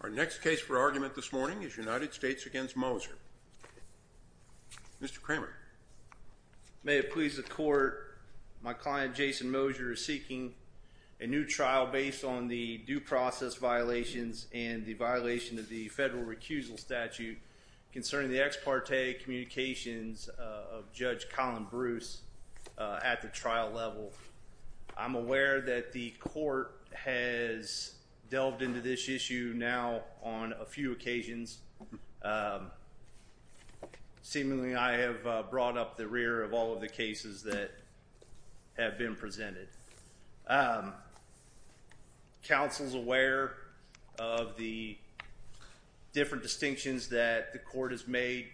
Our next case for argument this morning is United States v. Moser. Mr. Kramer. May it please the court, my client Jason Moser is seeking a new trial based on the due process violations and the violation of the federal recusal statute concerning the ex parte communications of Judge Colin Bruce at the trial level. I'm aware that the court has delved into this issue now on a few occasions. Seemingly I have brought up the rear of all of the cases that have been presented. Counsel's aware of the different distinctions that the court has made.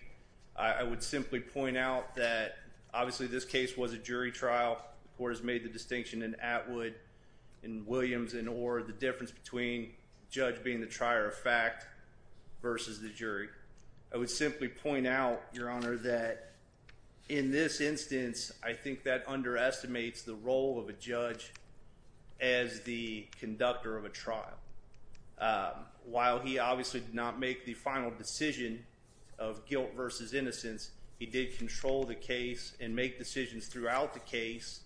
I would simply point out that obviously this case was a jury trial. The court has made the distinction in Atwood and Williams and or the difference between judge being the trier of fact versus the jury. I would simply point out your honor that in this instance, I think that underestimates the role of a judge as the conductor of a trial. While he obviously did not make the final decision of guilt versus innocence. He did control the case and make decisions throughout the case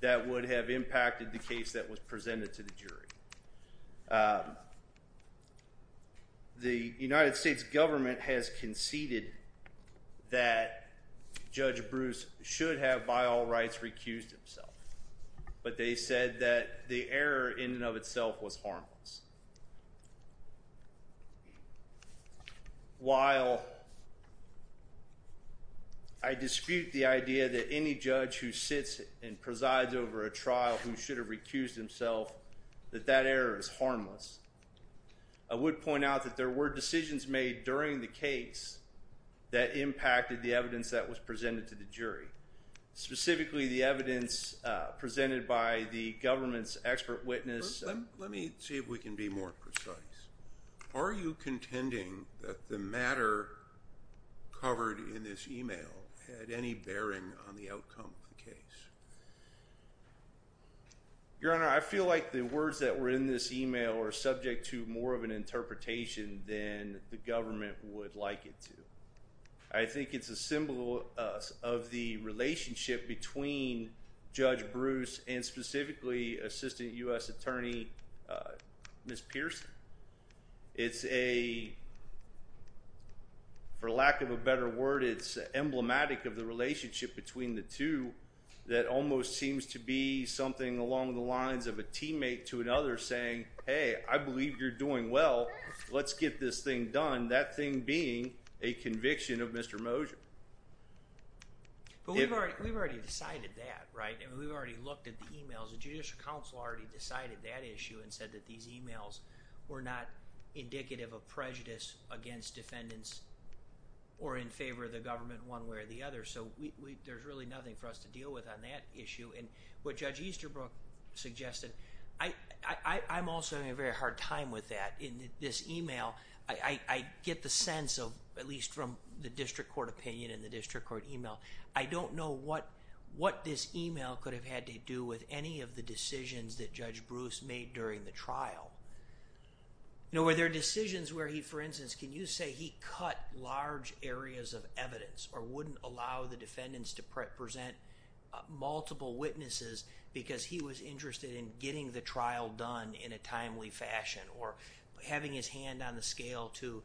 that would have impacted the case that was presented to the jury. The United States government has conceded that Judge Bruce should have by all rights recused himself. But they said that the error in and of itself was harmless. While I dispute the idea that any judge who sits and presides over a trial who should have recused himself that that error is harmless. I would point out that there were decisions made during the case that impacted the evidence that was presented to the jury. Specifically the evidence presented by the government's expert witness. Let me see if we can be more precise. Are you contending that the matter covered in this email had any bearing on the outcome of the case? Your honor, I feel like the words that were in this email are subject to more of an interpretation than the government would like it to. I think it's a symbol of the relationship between Judge Bruce and specifically Assistant U.S. Attorney Ms. Pearson. It's a, for lack of a better word, it's emblematic of the relationship between the two that almost seems to be something along the lines of a teammate to another saying, hey, I believe you're doing well, let's get this thing done. That thing being a conviction of Mr. Mosher. But we've already decided that, right? We've already looked at the emails. The Judicial Council already decided that issue and said that these emails were not indicative of prejudice against defendants or in favor of the government one way or the other. So there's really nothing for us to deal with on that issue. And what Judge Easterbrook suggested, I'm also having a very hard time with that in this email. I get the sense of, at least from the district court opinion and the district court email, I don't know what this email could have had to do with any of the decisions that Judge Bruce made during the trial. Were there decisions where he, for instance, can you say he cut large areas of evidence or wouldn't allow the defendants to present multiple witnesses because he was interested in getting the trial done in a timely fashion or having his hand on the scale to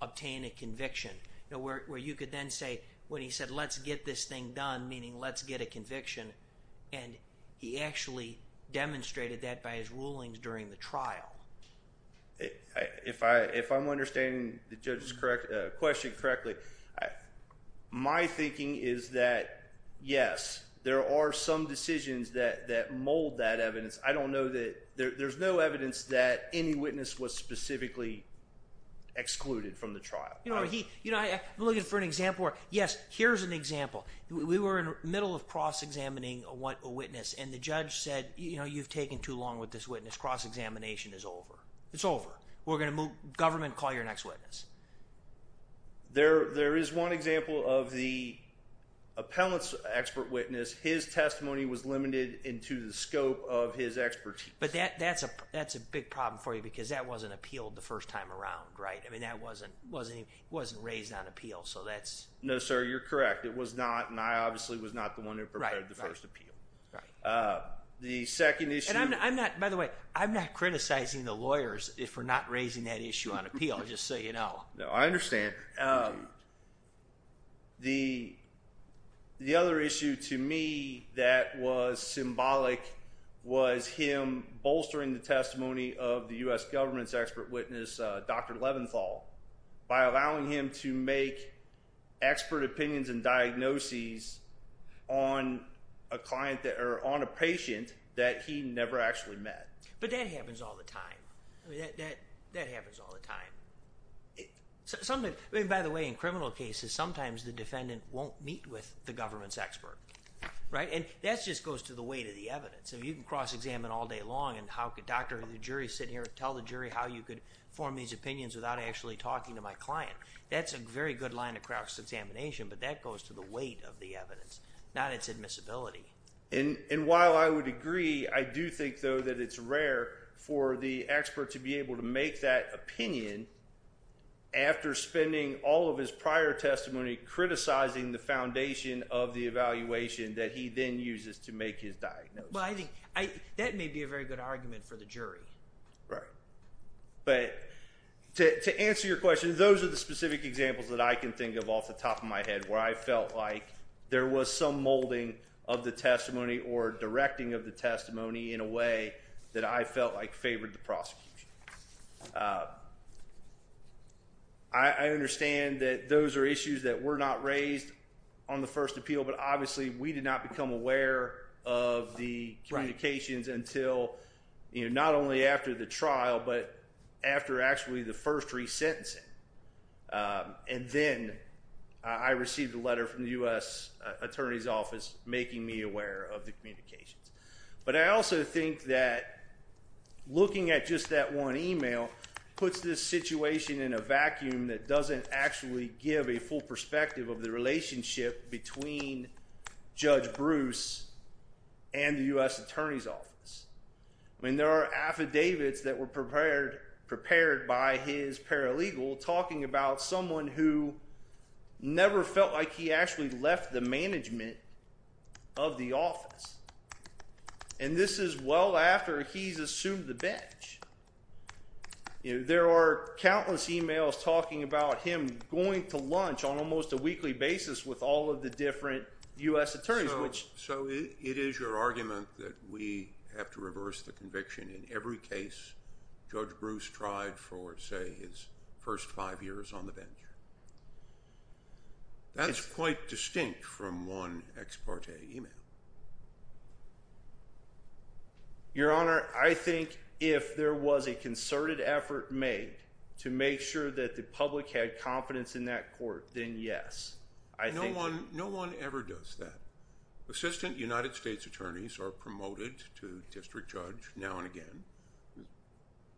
obtain a conviction? Where you could then say, when he said let's get this thing done, meaning let's get a conviction, and he actually demonstrated that by his rulings during the trial. If I'm understanding the question correctly, my thinking is that yes, there are some decisions that mold that evidence. I don't know that, there's no evidence that any witness was specifically excluded from the trial. You know, I'm looking for an example where, yes, here's an example. We were in the middle of cross-examining a witness and the judge said, you know, you've taken too long with this witness, cross-examination is over. It's over. We're going to move, government, call your next witness. There is one example of the appellant's expert witness, his testimony was limited into the scope of his expertise. But that's a big problem for you because that wasn't appealed the first time around, right? I mean, that wasn't raised on appeal, so that's... No, sir, you're correct. It was not, and I obviously was not the one who prepared the first appeal. Right. The second issue... And I'm not, by the way, I'm not criticizing the lawyers for not raising that issue on appeal, just so you know. No, I understand. The other issue to me that was symbolic was him bolstering the testimony of the U.S. government's expert witness, Dr. Leventhal, by allowing him to make expert opinions and diagnoses on a patient that he never actually met. But that happens all the time. That happens all the time. By the way, in criminal cases, sometimes the defendant won't meet with the government's expert, right? And that just goes to the weight of the evidence. If you can cross-examine all day long and have the doctor or the jury sit here and tell the jury how you could form these opinions without actually talking to my client, that's a very good line of cross-examination, but that goes to the weight of the evidence, not its admissibility. And while I would agree, I do think, though, that it's rare for the expert to be able to make that opinion after spending all of his prior testimony criticizing the foundation of the evaluation that he then uses to make his diagnosis. Well, I think that may be a very good argument for the jury. Right. But to answer your question, those are the specific examples that I can think of off the top of my head where I felt like there was some molding of the testimony or directing of the testimony in a way that I felt like favored the prosecution. I understand that those are issues that were not raised on the first appeal, but obviously we did not become aware of the communications until not only after the trial, but after actually the first resentencing. And then I received a letter from the U.S. Attorney's Office making me aware of the communications. But I also think that looking at just that one email puts this situation in a vacuum that doesn't actually give a full perspective of the relationship between Judge Bruce and the U.S. Attorney's Office. I mean, there are affidavits that were prepared by his paralegal talking about someone who never felt like he actually left the management of the office. And this is well after he's assumed the bench. There are countless emails talking about him going to lunch on almost a weekly basis with all of the different U.S. Attorneys. So it is your argument that we have to reverse the conviction in every case Judge Bruce tried for, say, his first five years on the bench? That's quite distinct from one ex parte email. Your Honor, I think if there was a concerted effort made to make sure that the public had confidence in that court, then yes. No one ever does that. Assistant United States Attorneys are promoted to district judge now and again.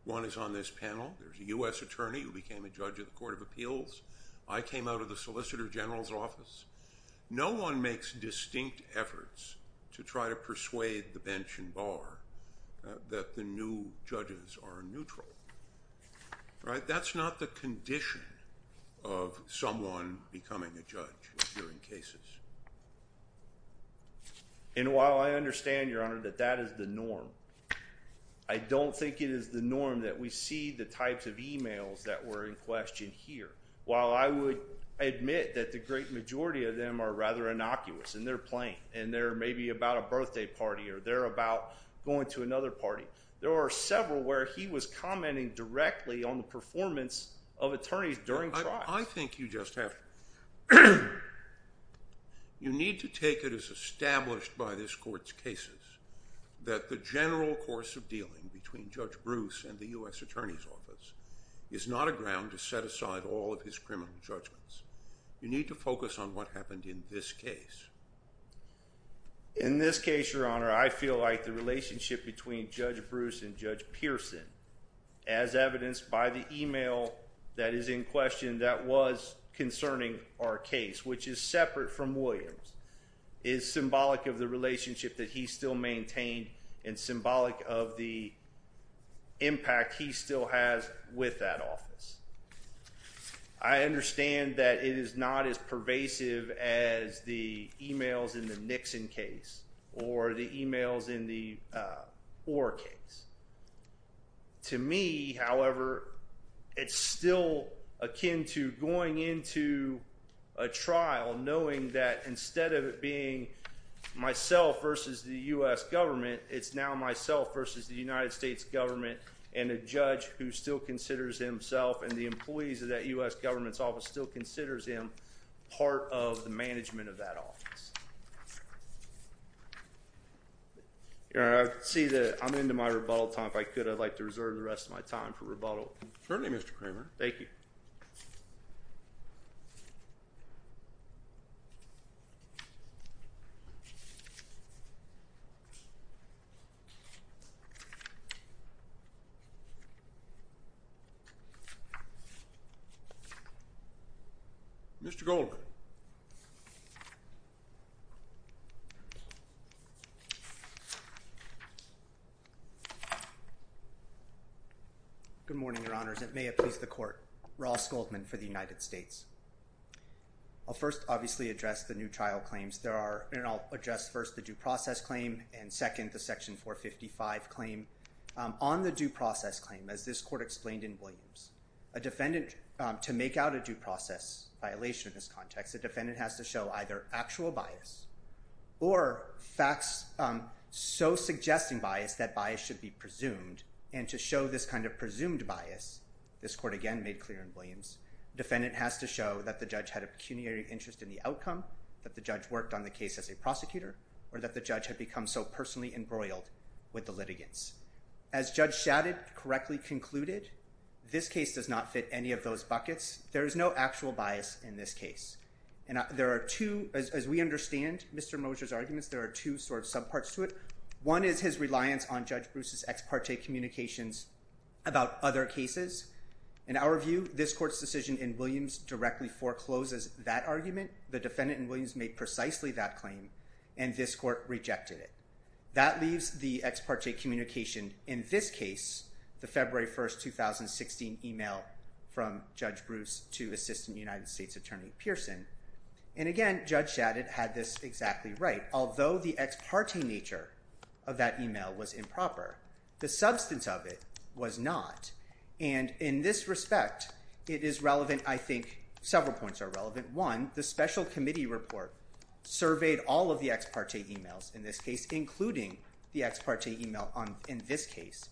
One is on this panel. There's a U.S. Attorney who became a judge of the Court of Appeals. I came out of the Solicitor General's office. No one makes distinct efforts to try to persuade the bench and bar that the new judges are neutral. Right. That's not the condition of someone becoming a judge during cases. And while I understand, Your Honor, that that is the norm, I don't think it is the norm that we see the types of emails that were in question here. While I would admit that the great majority of them are rather innocuous and they're playing and they're maybe about a birthday party or they're about going to another party. There are several where he was commenting directly on the performance of attorneys during trial. I think you just have to. You need to take it as established by this court's cases that the general course of dealing between Judge Bruce and the U.S. Attorney's office is not a ground to set aside all of his criminal judgments. You need to focus on what happened in this case. In this case, Your Honor, I feel like the relationship between Judge Bruce and Judge Pearson, as evidenced by the email that is in question that was concerning our case, which is separate from Williams, is symbolic of the relationship that he still maintained and symbolic of the impact he still has with that office. I understand that it is not as pervasive as the emails in the Nixon case or the emails in the Orr case. To me, however, it's still akin to going into a trial knowing that instead of it being myself versus the U.S. government, it's now myself versus the United States government and a judge who still considers himself and the employees of that U.S. government's office still considers him part of the management of that office. Your Honor, I see that I'm into my rebuttal time. If I could, I'd like to reserve the rest of my time for rebuttal. Certainly, Mr. Kramer. Thank you. Mr. Goldman. Good morning, Your Honors. It may have pleased the Court. Ross Goldman for the United States. I'll first, obviously, address the new trial claims. There are, and I'll address first the due process claim and second, the Section 455 claim. On the due process claim, as this Court explained in Williams, a defendant, to make out a due process violation in this context, a defendant has to show either actual bias or evidence of bias. Or facts so suggesting bias that bias should be presumed. And to show this kind of presumed bias, this Court again made clear in Williams, the defendant has to show that the judge had a pecuniary interest in the outcome, that the judge worked on the case as a prosecutor, or that the judge had become so personally embroiled with the litigants. As Judge Shadid correctly concluded, this case does not fit any of those buckets. There is no actual bias in this case. And there are two, as we understand Mr. Mosher's arguments, there are two sort of subparts to it. One is his reliance on Judge Bruce's ex parte communications about other cases. In our view, this Court's decision in Williams directly forecloses that argument. The defendant in Williams made precisely that claim, and this Court rejected it. That leaves the ex parte communication in this case, the February 1st, 2016 email from Judge Bruce to Assistant United States Attorney Pearson. And again, Judge Shadid had this exactly right. Although the ex parte nature of that email was improper, the substance of it was not. And in this respect, it is relevant, I think several points are relevant. One, the special committee report surveyed all of the ex parte emails in this case, including the ex parte email in this case,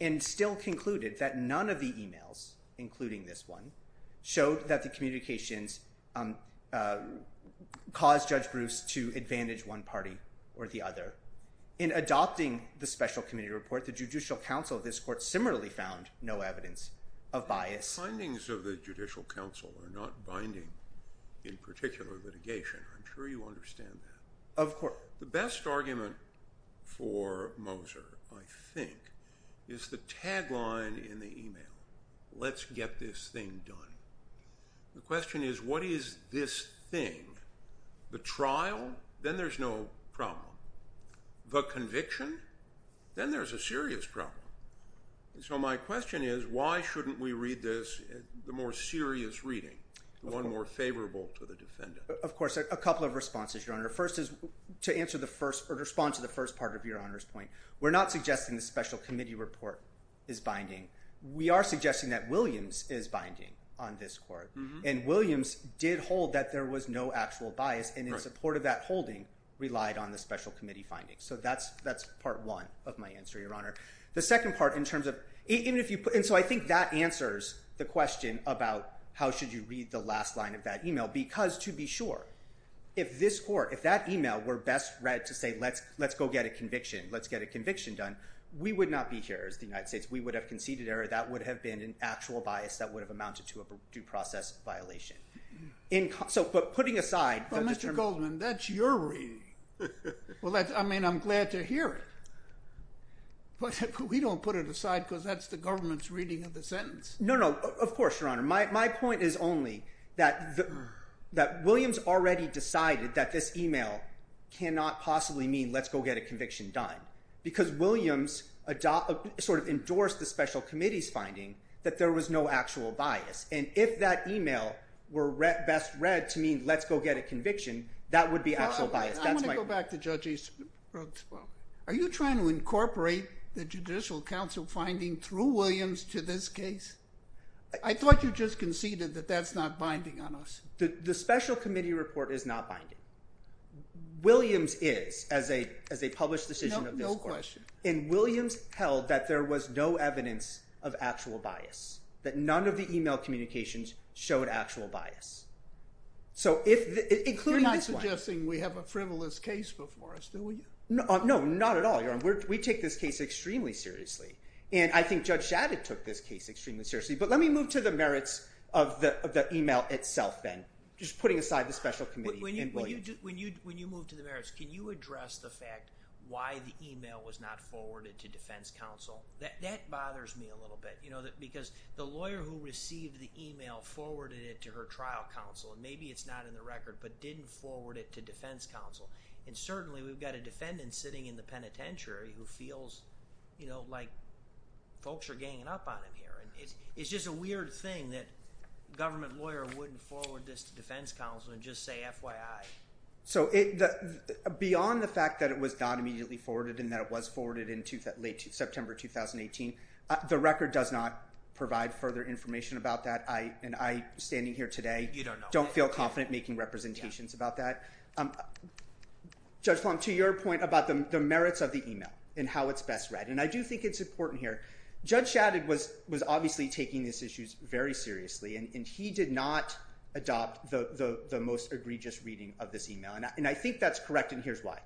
and still concluded that none of the emails, including this one, showed that the communications caused Judge Bruce to advantage one party or the other. In adopting the special committee report, the Judicial Council of this Court similarly found no evidence of bias. The findings of the Judicial Council are not binding in particular litigation. I'm sure you understand that. Of course. The best argument for Moser, I think, is the tagline in the email, let's get this thing done. The question is, what is this thing? The trial? Then there's no problem. The conviction? Then there's a serious problem. So my question is, why shouldn't we read this, the more serious reading, the one more favorable to the defendant? Of course, a couple of responses, Your Honor. First is to answer the first, or respond to the first part of Your Honor's point. We're not suggesting the special committee report is binding. We are suggesting that Williams is binding on this court. And Williams did hold that there was no actual bias, and in support of that holding, relied on the special committee findings. So that's part one of my answer, Your Honor. The second part, in terms of – and so I think that answers the question about how should you read the last line of that email. Because, to be sure, if this court, if that email were best read to say, let's go get a conviction, let's get a conviction done, we would not be here as the United States. We would have conceded error. That would have been an actual bias that would have amounted to a due process violation. So, but putting aside – Well, Mr. Goldman, that's your reading. I mean, I'm glad to hear it. But we don't put it aside because that's the government's reading of the sentence. No, no. Of course, Your Honor. My point is only that Williams already decided that this email cannot possibly mean let's go get a conviction done. Because Williams sort of endorsed the special committee's finding that there was no actual bias. And if that email were best read to mean let's go get a conviction, that would be actual bias. I want to go back to Judge Rugsbo. Are you trying to incorporate the judicial counsel finding through Williams to this case? I thought you just conceded that that's not binding on us. The special committee report is not binding. Williams is as a published decision of this court. No question. And Williams held that there was no evidence of actual bias, that none of the email communications showed actual bias. So if – You're not suggesting we have a frivolous case before us, do we? No, not at all, Your Honor. We take this case extremely seriously. And I think Judge Shadid took this case extremely seriously. But let me move to the merits of the email itself then, just putting aside the special committee and Williams. When you move to the merits, can you address the fact why the email was not forwarded to defense counsel? That bothers me a little bit because the lawyer who received the email forwarded it to her trial counsel. And maybe it's not in the record, but didn't forward it to defense counsel. And certainly we've got a defendant sitting in the penitentiary who feels, you know, like folks are ganging up on him here. It's just a weird thing that a government lawyer wouldn't forward this to defense counsel and just say FYI. So beyond the fact that it was not immediately forwarded and that it was forwarded in late September 2018, the record does not provide further information about that. And I, standing here today, don't feel confident making representations about that. Judge Plum, to your point about the merits of the email and how it's best read, and I do think it's important here. Judge Shadid was obviously taking these issues very seriously, and he did not adopt the most egregious reading of this email. And I think that's correct, and here's why.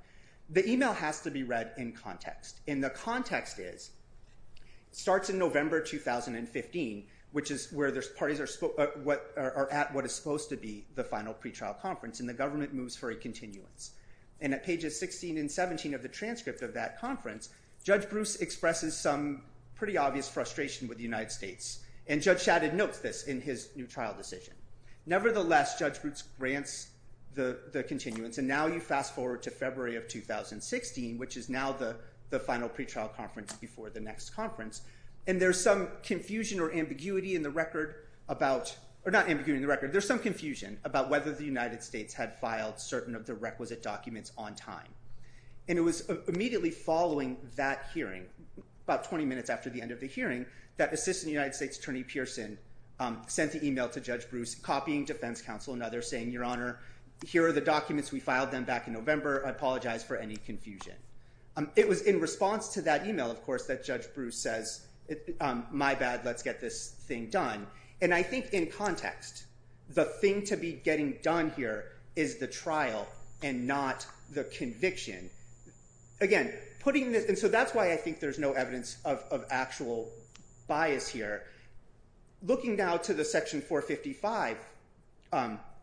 The email has to be read in context. And the context is it starts in November 2015, which is where the parties are at what is supposed to be the final pretrial conference, and the government moves for a continuance. And at pages 16 and 17 of the transcript of that conference, Judge Bruce expresses some pretty obvious frustration with the United States. And Judge Shadid notes this in his new trial decision. Nevertheless, Judge Bruce grants the continuance, and now you fast forward to February of 2016, which is now the final pretrial conference before the next conference, and there's some confusion or ambiguity in the record about – or not ambiguity in the record. There's some confusion about whether the United States had filed certain of the requisite documents on time. And it was immediately following that hearing, about 20 minutes after the end of the hearing, that Assistant United States Attorney Pearson sent the email to Judge Bruce, copying defense counsel and others, saying, Your Honor, here are the documents. We filed them back in November. I apologize for any confusion. It was in response to that email, of course, that Judge Bruce says, my bad, let's get this thing done. And I think in context, the thing to be getting done here is the trial and not the conviction. Again, putting this – and so that's why I think there's no evidence of actual bias here. Looking now to the Section 455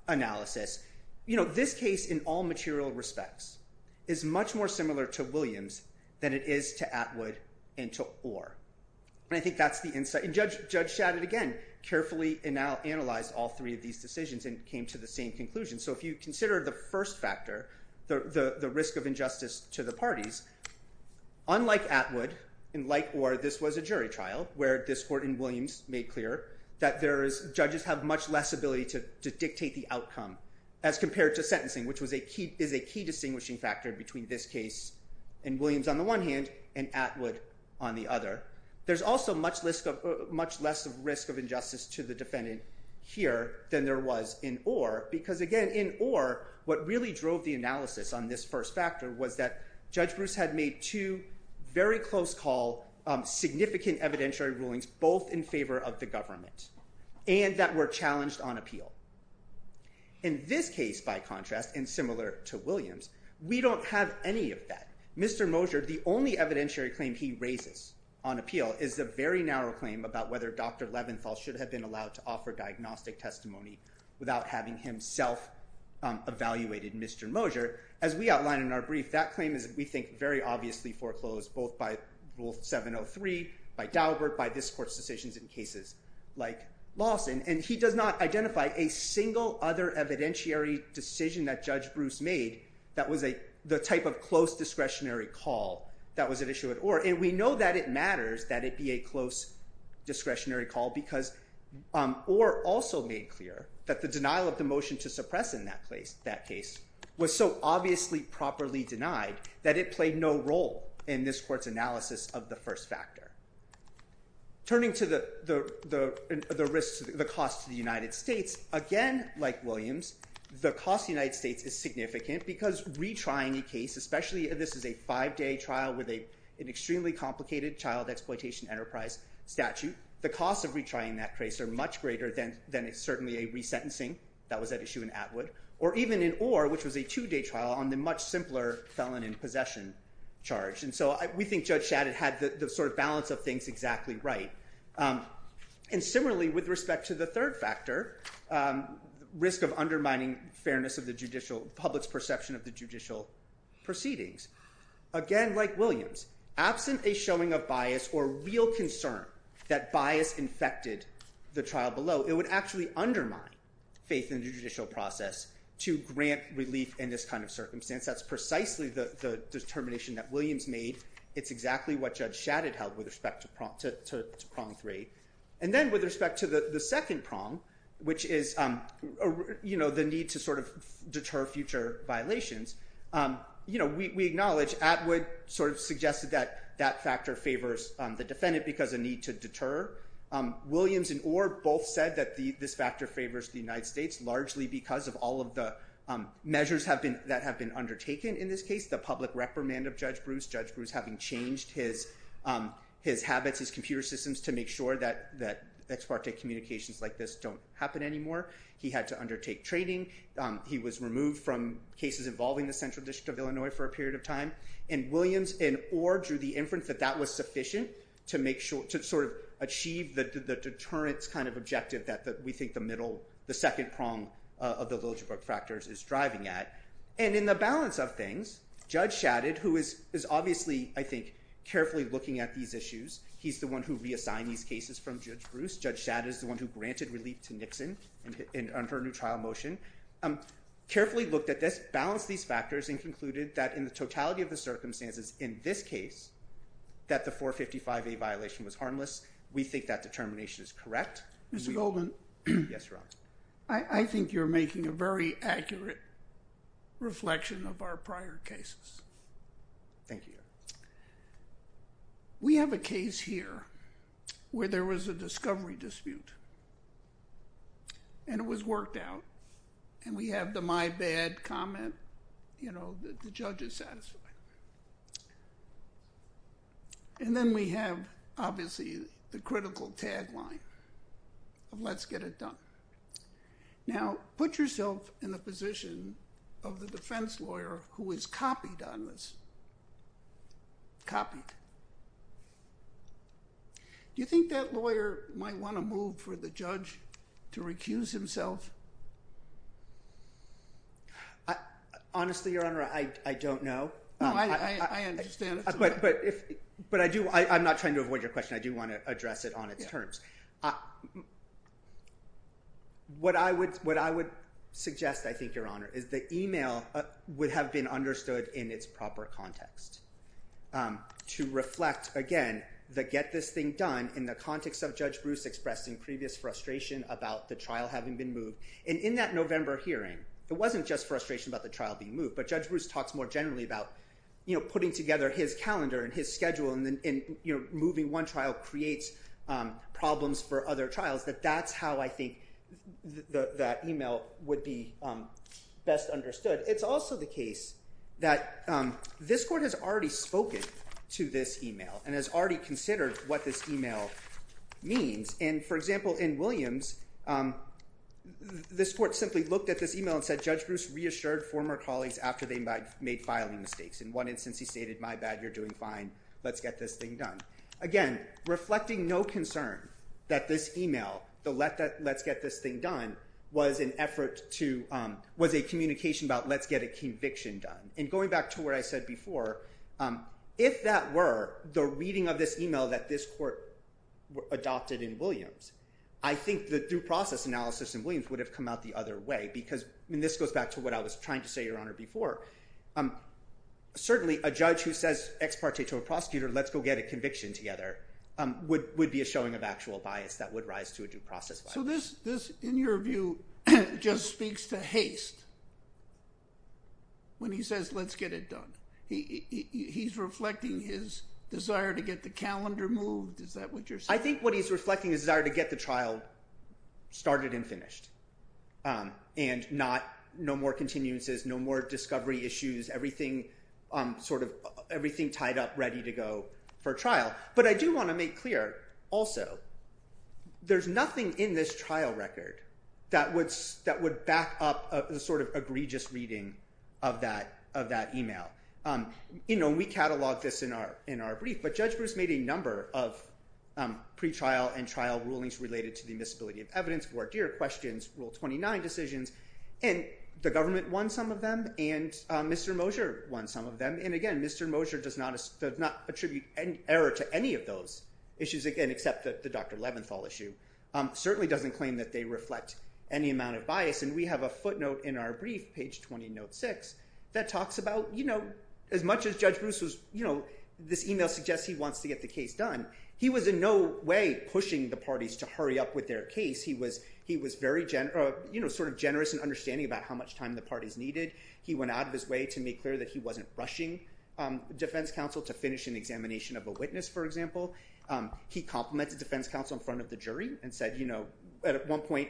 analysis, you know, this case, in all material respects, is much more similar to Williams than it is to Atwood and to Orr. And I think that's the – and Judge Shadid, again, carefully analyzed all three of these decisions and came to the same conclusion. So if you consider the first factor, the risk of injustice to the parties, unlike Atwood and like Orr, this was a jury trial where this court in Williams made clear that judges have much less ability to dictate the outcome as compared to sentencing, which is a key distinguishing factor between this case in Williams on the one hand and Atwood on the other. There's also much less risk of injustice to the defendant here than there was in Orr because, again, in Orr, what really drove the analysis on this first factor was that Judge Bruce had made two very close call significant evidentiary rulings both in favor of the government and that were challenged on appeal. In this case, by contrast, and similar to Williams, we don't have any of that. Mr. Mosher, the only evidentiary claim he raises on appeal is a very narrow claim about whether Dr. Leventhal should have been allowed to offer diagnostic testimony without having himself evaluated Mr. Mosher. As we outline in our brief, that claim is, we think, very obviously foreclosed both by Rule 703, by Daubert, by this court's decisions in cases like Lawson, and he does not identify a single other evidentiary decision that Judge Bruce made that was the type of close discretionary call that was at issue at Orr. And we know that it matters that it be a close discretionary call because Orr also made clear that the denial of the motion to suppress in that case was so obviously properly denied that it played no role in this court's analysis of the first factor. Turning to the cost to the United States, again, like Williams, the cost to the United States is significant because retrying a case, especially if this is a five-day trial with an extremely complicated child exploitation enterprise statute, the costs of retrying that case are much greater than certainly a resentencing that was at issue in Atwood, or even in Orr, which was a two-day trial on the much simpler felon in possession charge. And so we think Judge Shadid had the sort of balance of things exactly right. And similarly, with respect to the third factor, risk of undermining fairness of the judicial, public's perception of the judicial proceedings. Again, like Williams, absent a showing of bias or real concern that bias infected the trial below, it would actually undermine faith in the judicial process to grant relief in this kind of circumstance. That's precisely the determination that Williams made. It's exactly what Judge Shadid held with respect to prong three. And then with respect to the second prong, which is, you know, the need to sort of deter future violations. You know, we acknowledge Atwood sort of suggested that that factor favors the defendant because a need to deter. Williams and Orr both said that this factor favors the United States, largely because of all of the measures that have been undertaken in this case, the public reprimand of Judge Bruce. Judge Bruce having changed his his habits, his computer systems to make sure that that ex parte communications like this don't happen anymore. He had to undertake training. He was removed from cases involving the Central District of Illinois for a period of time. And Williams and Orr drew the inference that that was sufficient to make sure to sort of achieve the deterrence kind of objective that we think the middle, the second prong of the Liljebrug factors is driving at. And in the balance of things, Judge Shadid, who is obviously, I think, carefully looking at these issues. He's the one who reassigned these cases from Judge Bruce. Judge Shadid is the one who granted relief to Nixon and her new trial motion. Carefully looked at this, balanced these factors and concluded that in the totality of the circumstances in this case, that the 455A violation was harmless. We think that determination is correct. Mr. Goldman, I think you're making a very accurate reflection of our prior cases. Thank you. We have a case here where there was a discovery dispute. And it was worked out and we have the my bad comment. You know, the judge is satisfied. And then we have, obviously, the critical tagline of let's get it done. Now, put yourself in the position of the defense lawyer who is copied on this. Copied. Do you think that lawyer might want to move for the judge to recuse himself? Honestly, Your Honor, I don't know. I understand. But I do. I'm not trying to avoid your question. I do want to address it on its terms. What I would what I would suggest, I think, Your Honor, is the email would have been understood in its proper context. To reflect, again, the get this thing done in the context of Judge Bruce expressed in previous frustration about the trial having been moved. And in that November hearing, it wasn't just frustration about the trial being moved. But Judge Bruce talks more generally about, you know, putting together his calendar and his schedule and moving one trial creates problems for other trials. That that's how I think that email would be best understood. It's also the case that this court has already spoken to this email and has already considered what this email means. And, for example, in Williams, this court simply looked at this email and said Judge Bruce reassured former colleagues after they made filing mistakes. In one instance, he stated, my bad, you're doing fine. Let's get this thing done. Again, reflecting no concern that this email, the let's get this thing done, was an effort to was a communication about let's get a conviction done. And going back to what I said before, if that were the reading of this email that this court adopted in Williams, I think the due process analysis in Williams would have come out the other way. Because this goes back to what I was trying to say, Your Honor, before. Certainly, a judge who says ex parte to a prosecutor, let's go get a conviction together, would be a showing of actual bias that would rise to a due process bias. So this, in your view, just speaks to haste when he says let's get it done. He's reflecting his desire to get the calendar moved. Is that what you're saying? I think what he's reflecting is his desire to get the trial started and finished. And no more continuances, no more discovery issues, everything tied up ready to go for trial. But I do want to make clear, also, there's nothing in this trial record that would back up the egregious reading of that email. We catalog this in our brief, but Judge Bruce made a number of pretrial and trial rulings related to the admissibility of evidence, voir dire questions, Rule 29 decisions. And the government won some of them, and Mr. Mosher won some of them. And again, Mr. Mosher does not attribute error to any of those issues, again, except the Dr. Leventhal issue. Certainly doesn't claim that they reflect any amount of bias. And we have a footnote in our brief, page 20, note 6, that talks about, you know, as much as Judge Bruce was, you know, this email suggests he wants to get the case done. He was in no way pushing the parties to hurry up with their case. He was very, you know, sort of generous in understanding about how much time the parties needed. He went out of his way to make clear that he wasn't rushing defense counsel to finish an examination of a witness, for example. He complimented defense counsel in front of the jury and said, you know, at one point,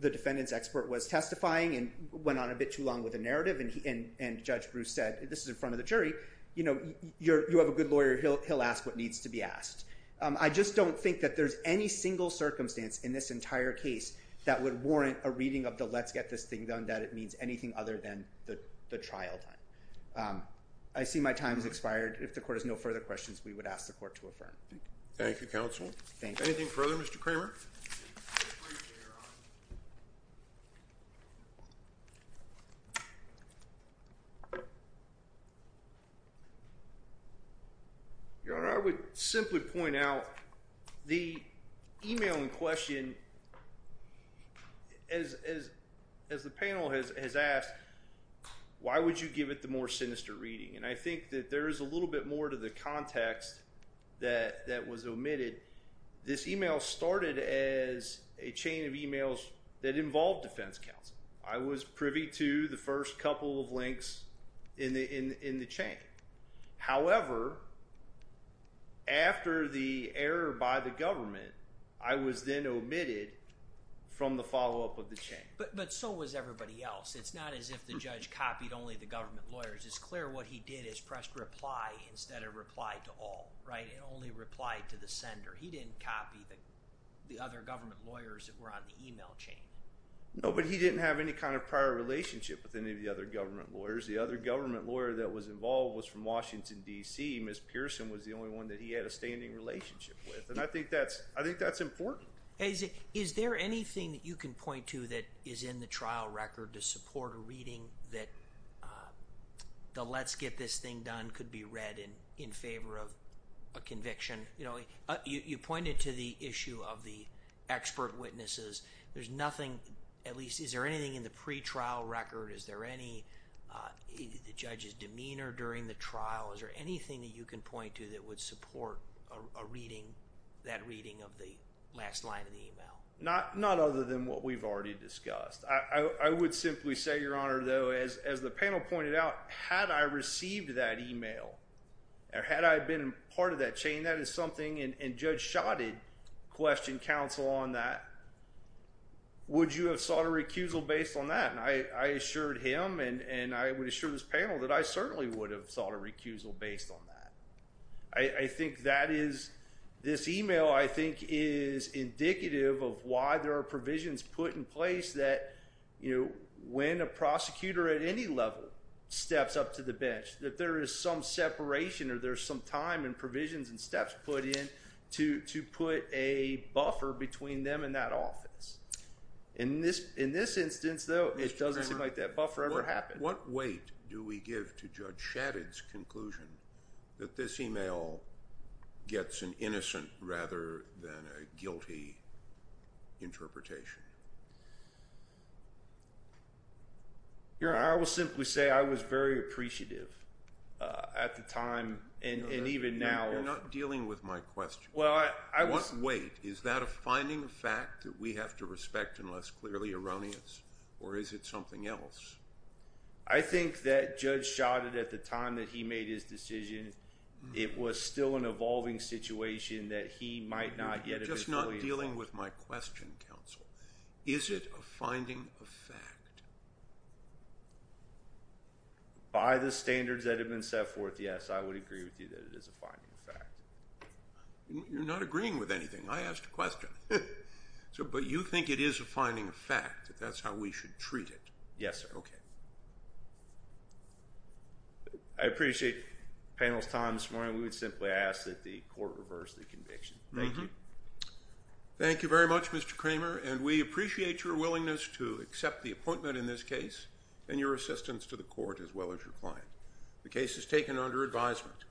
the defendant's expert was testifying and went on a bit too long with the narrative. And Judge Bruce said, this is in front of the jury, you know, you have a good lawyer, he'll ask what needs to be asked. I just don't think that there's any single circumstance in this entire case that would warrant a reading of the let's get this thing done that it means anything other than the trial done. I see my time has expired. If the court has no further questions, we would ask the court to affirm. Thank you, counsel. Thank you. Anything further, Mr. Kramer? Your Honor, I would simply point out the email in question, as the panel has asked, why would you give it the more sinister reading? And I think that there is a little bit more to the context that was omitted. This email started as a chain of emails that involved defense counsel. I was privy to the first couple of links in the chain. However, after the error by the government, I was then omitted from the follow-up of the chain. But so was everybody else. It's not as if the judge copied only the government lawyers. It's clear what he did is press reply instead of reply to all, right? It only replied to the sender. He didn't copy the other government lawyers that were on the email chain. No, but he didn't have any kind of prior relationship with any of the other government lawyers. The other government lawyer that was involved was from Washington, D.C. Ms. Pearson was the only one that he had a standing relationship with. And I think that's important. Is there anything that you can point to that is in the trial record to support a reading that the let's get this thing done could be read in favor of a conviction? You pointed to the issue of the expert witnesses. There's nothing, at least, is there anything in the pretrial record? Is there any judge's demeanor during the trial? Is there anything that you can point to that would support a reading, that reading of the last line of the email? Not other than what we've already discussed. I would simply say, Your Honor, though, as the panel pointed out, had I received that email or had I been part of that chain, that is something, and Judge Schott had questioned counsel on that, would you have sought a recusal based on that? And I assured him and I would assure this panel that I certainly would have sought a recusal based on that. I think that is, this email, I think, is indicative of why there are provisions put in place that, you know, when a prosecutor at any level steps up to the bench, that there is some separation or there's some time and provisions and steps put in to put a buffer between them and that office. In this instance, though, it doesn't seem like that buffer ever happened. What weight do we give to Judge Shadid's conclusion that this email gets an innocent rather than a guilty interpretation? Your Honor, I will simply say I was very appreciative at the time and even now. You're not dealing with my question. What weight? Is that a finding of fact that we have to respect unless clearly erroneous? Or is it something else? I think that Judge Shadid, at the time that he made his decision, it was still an evolving situation that he might not yet have been fully involved. You're just not dealing with my question, counsel. Is it a finding of fact? By the standards that have been set forth, yes, I would agree with you that it is a finding of fact. You're not agreeing with anything. I asked a question. But you think it is a finding of fact that that's how we should treat it? Yes, sir. Okay. I appreciate the panel's time this morning. We would simply ask that the Court reverse the conviction. Thank you. Thank you very much, Mr. Kramer. And we appreciate your willingness to accept the appointment in this case and your assistance to the Court as well as your client. The case is taken under advisement.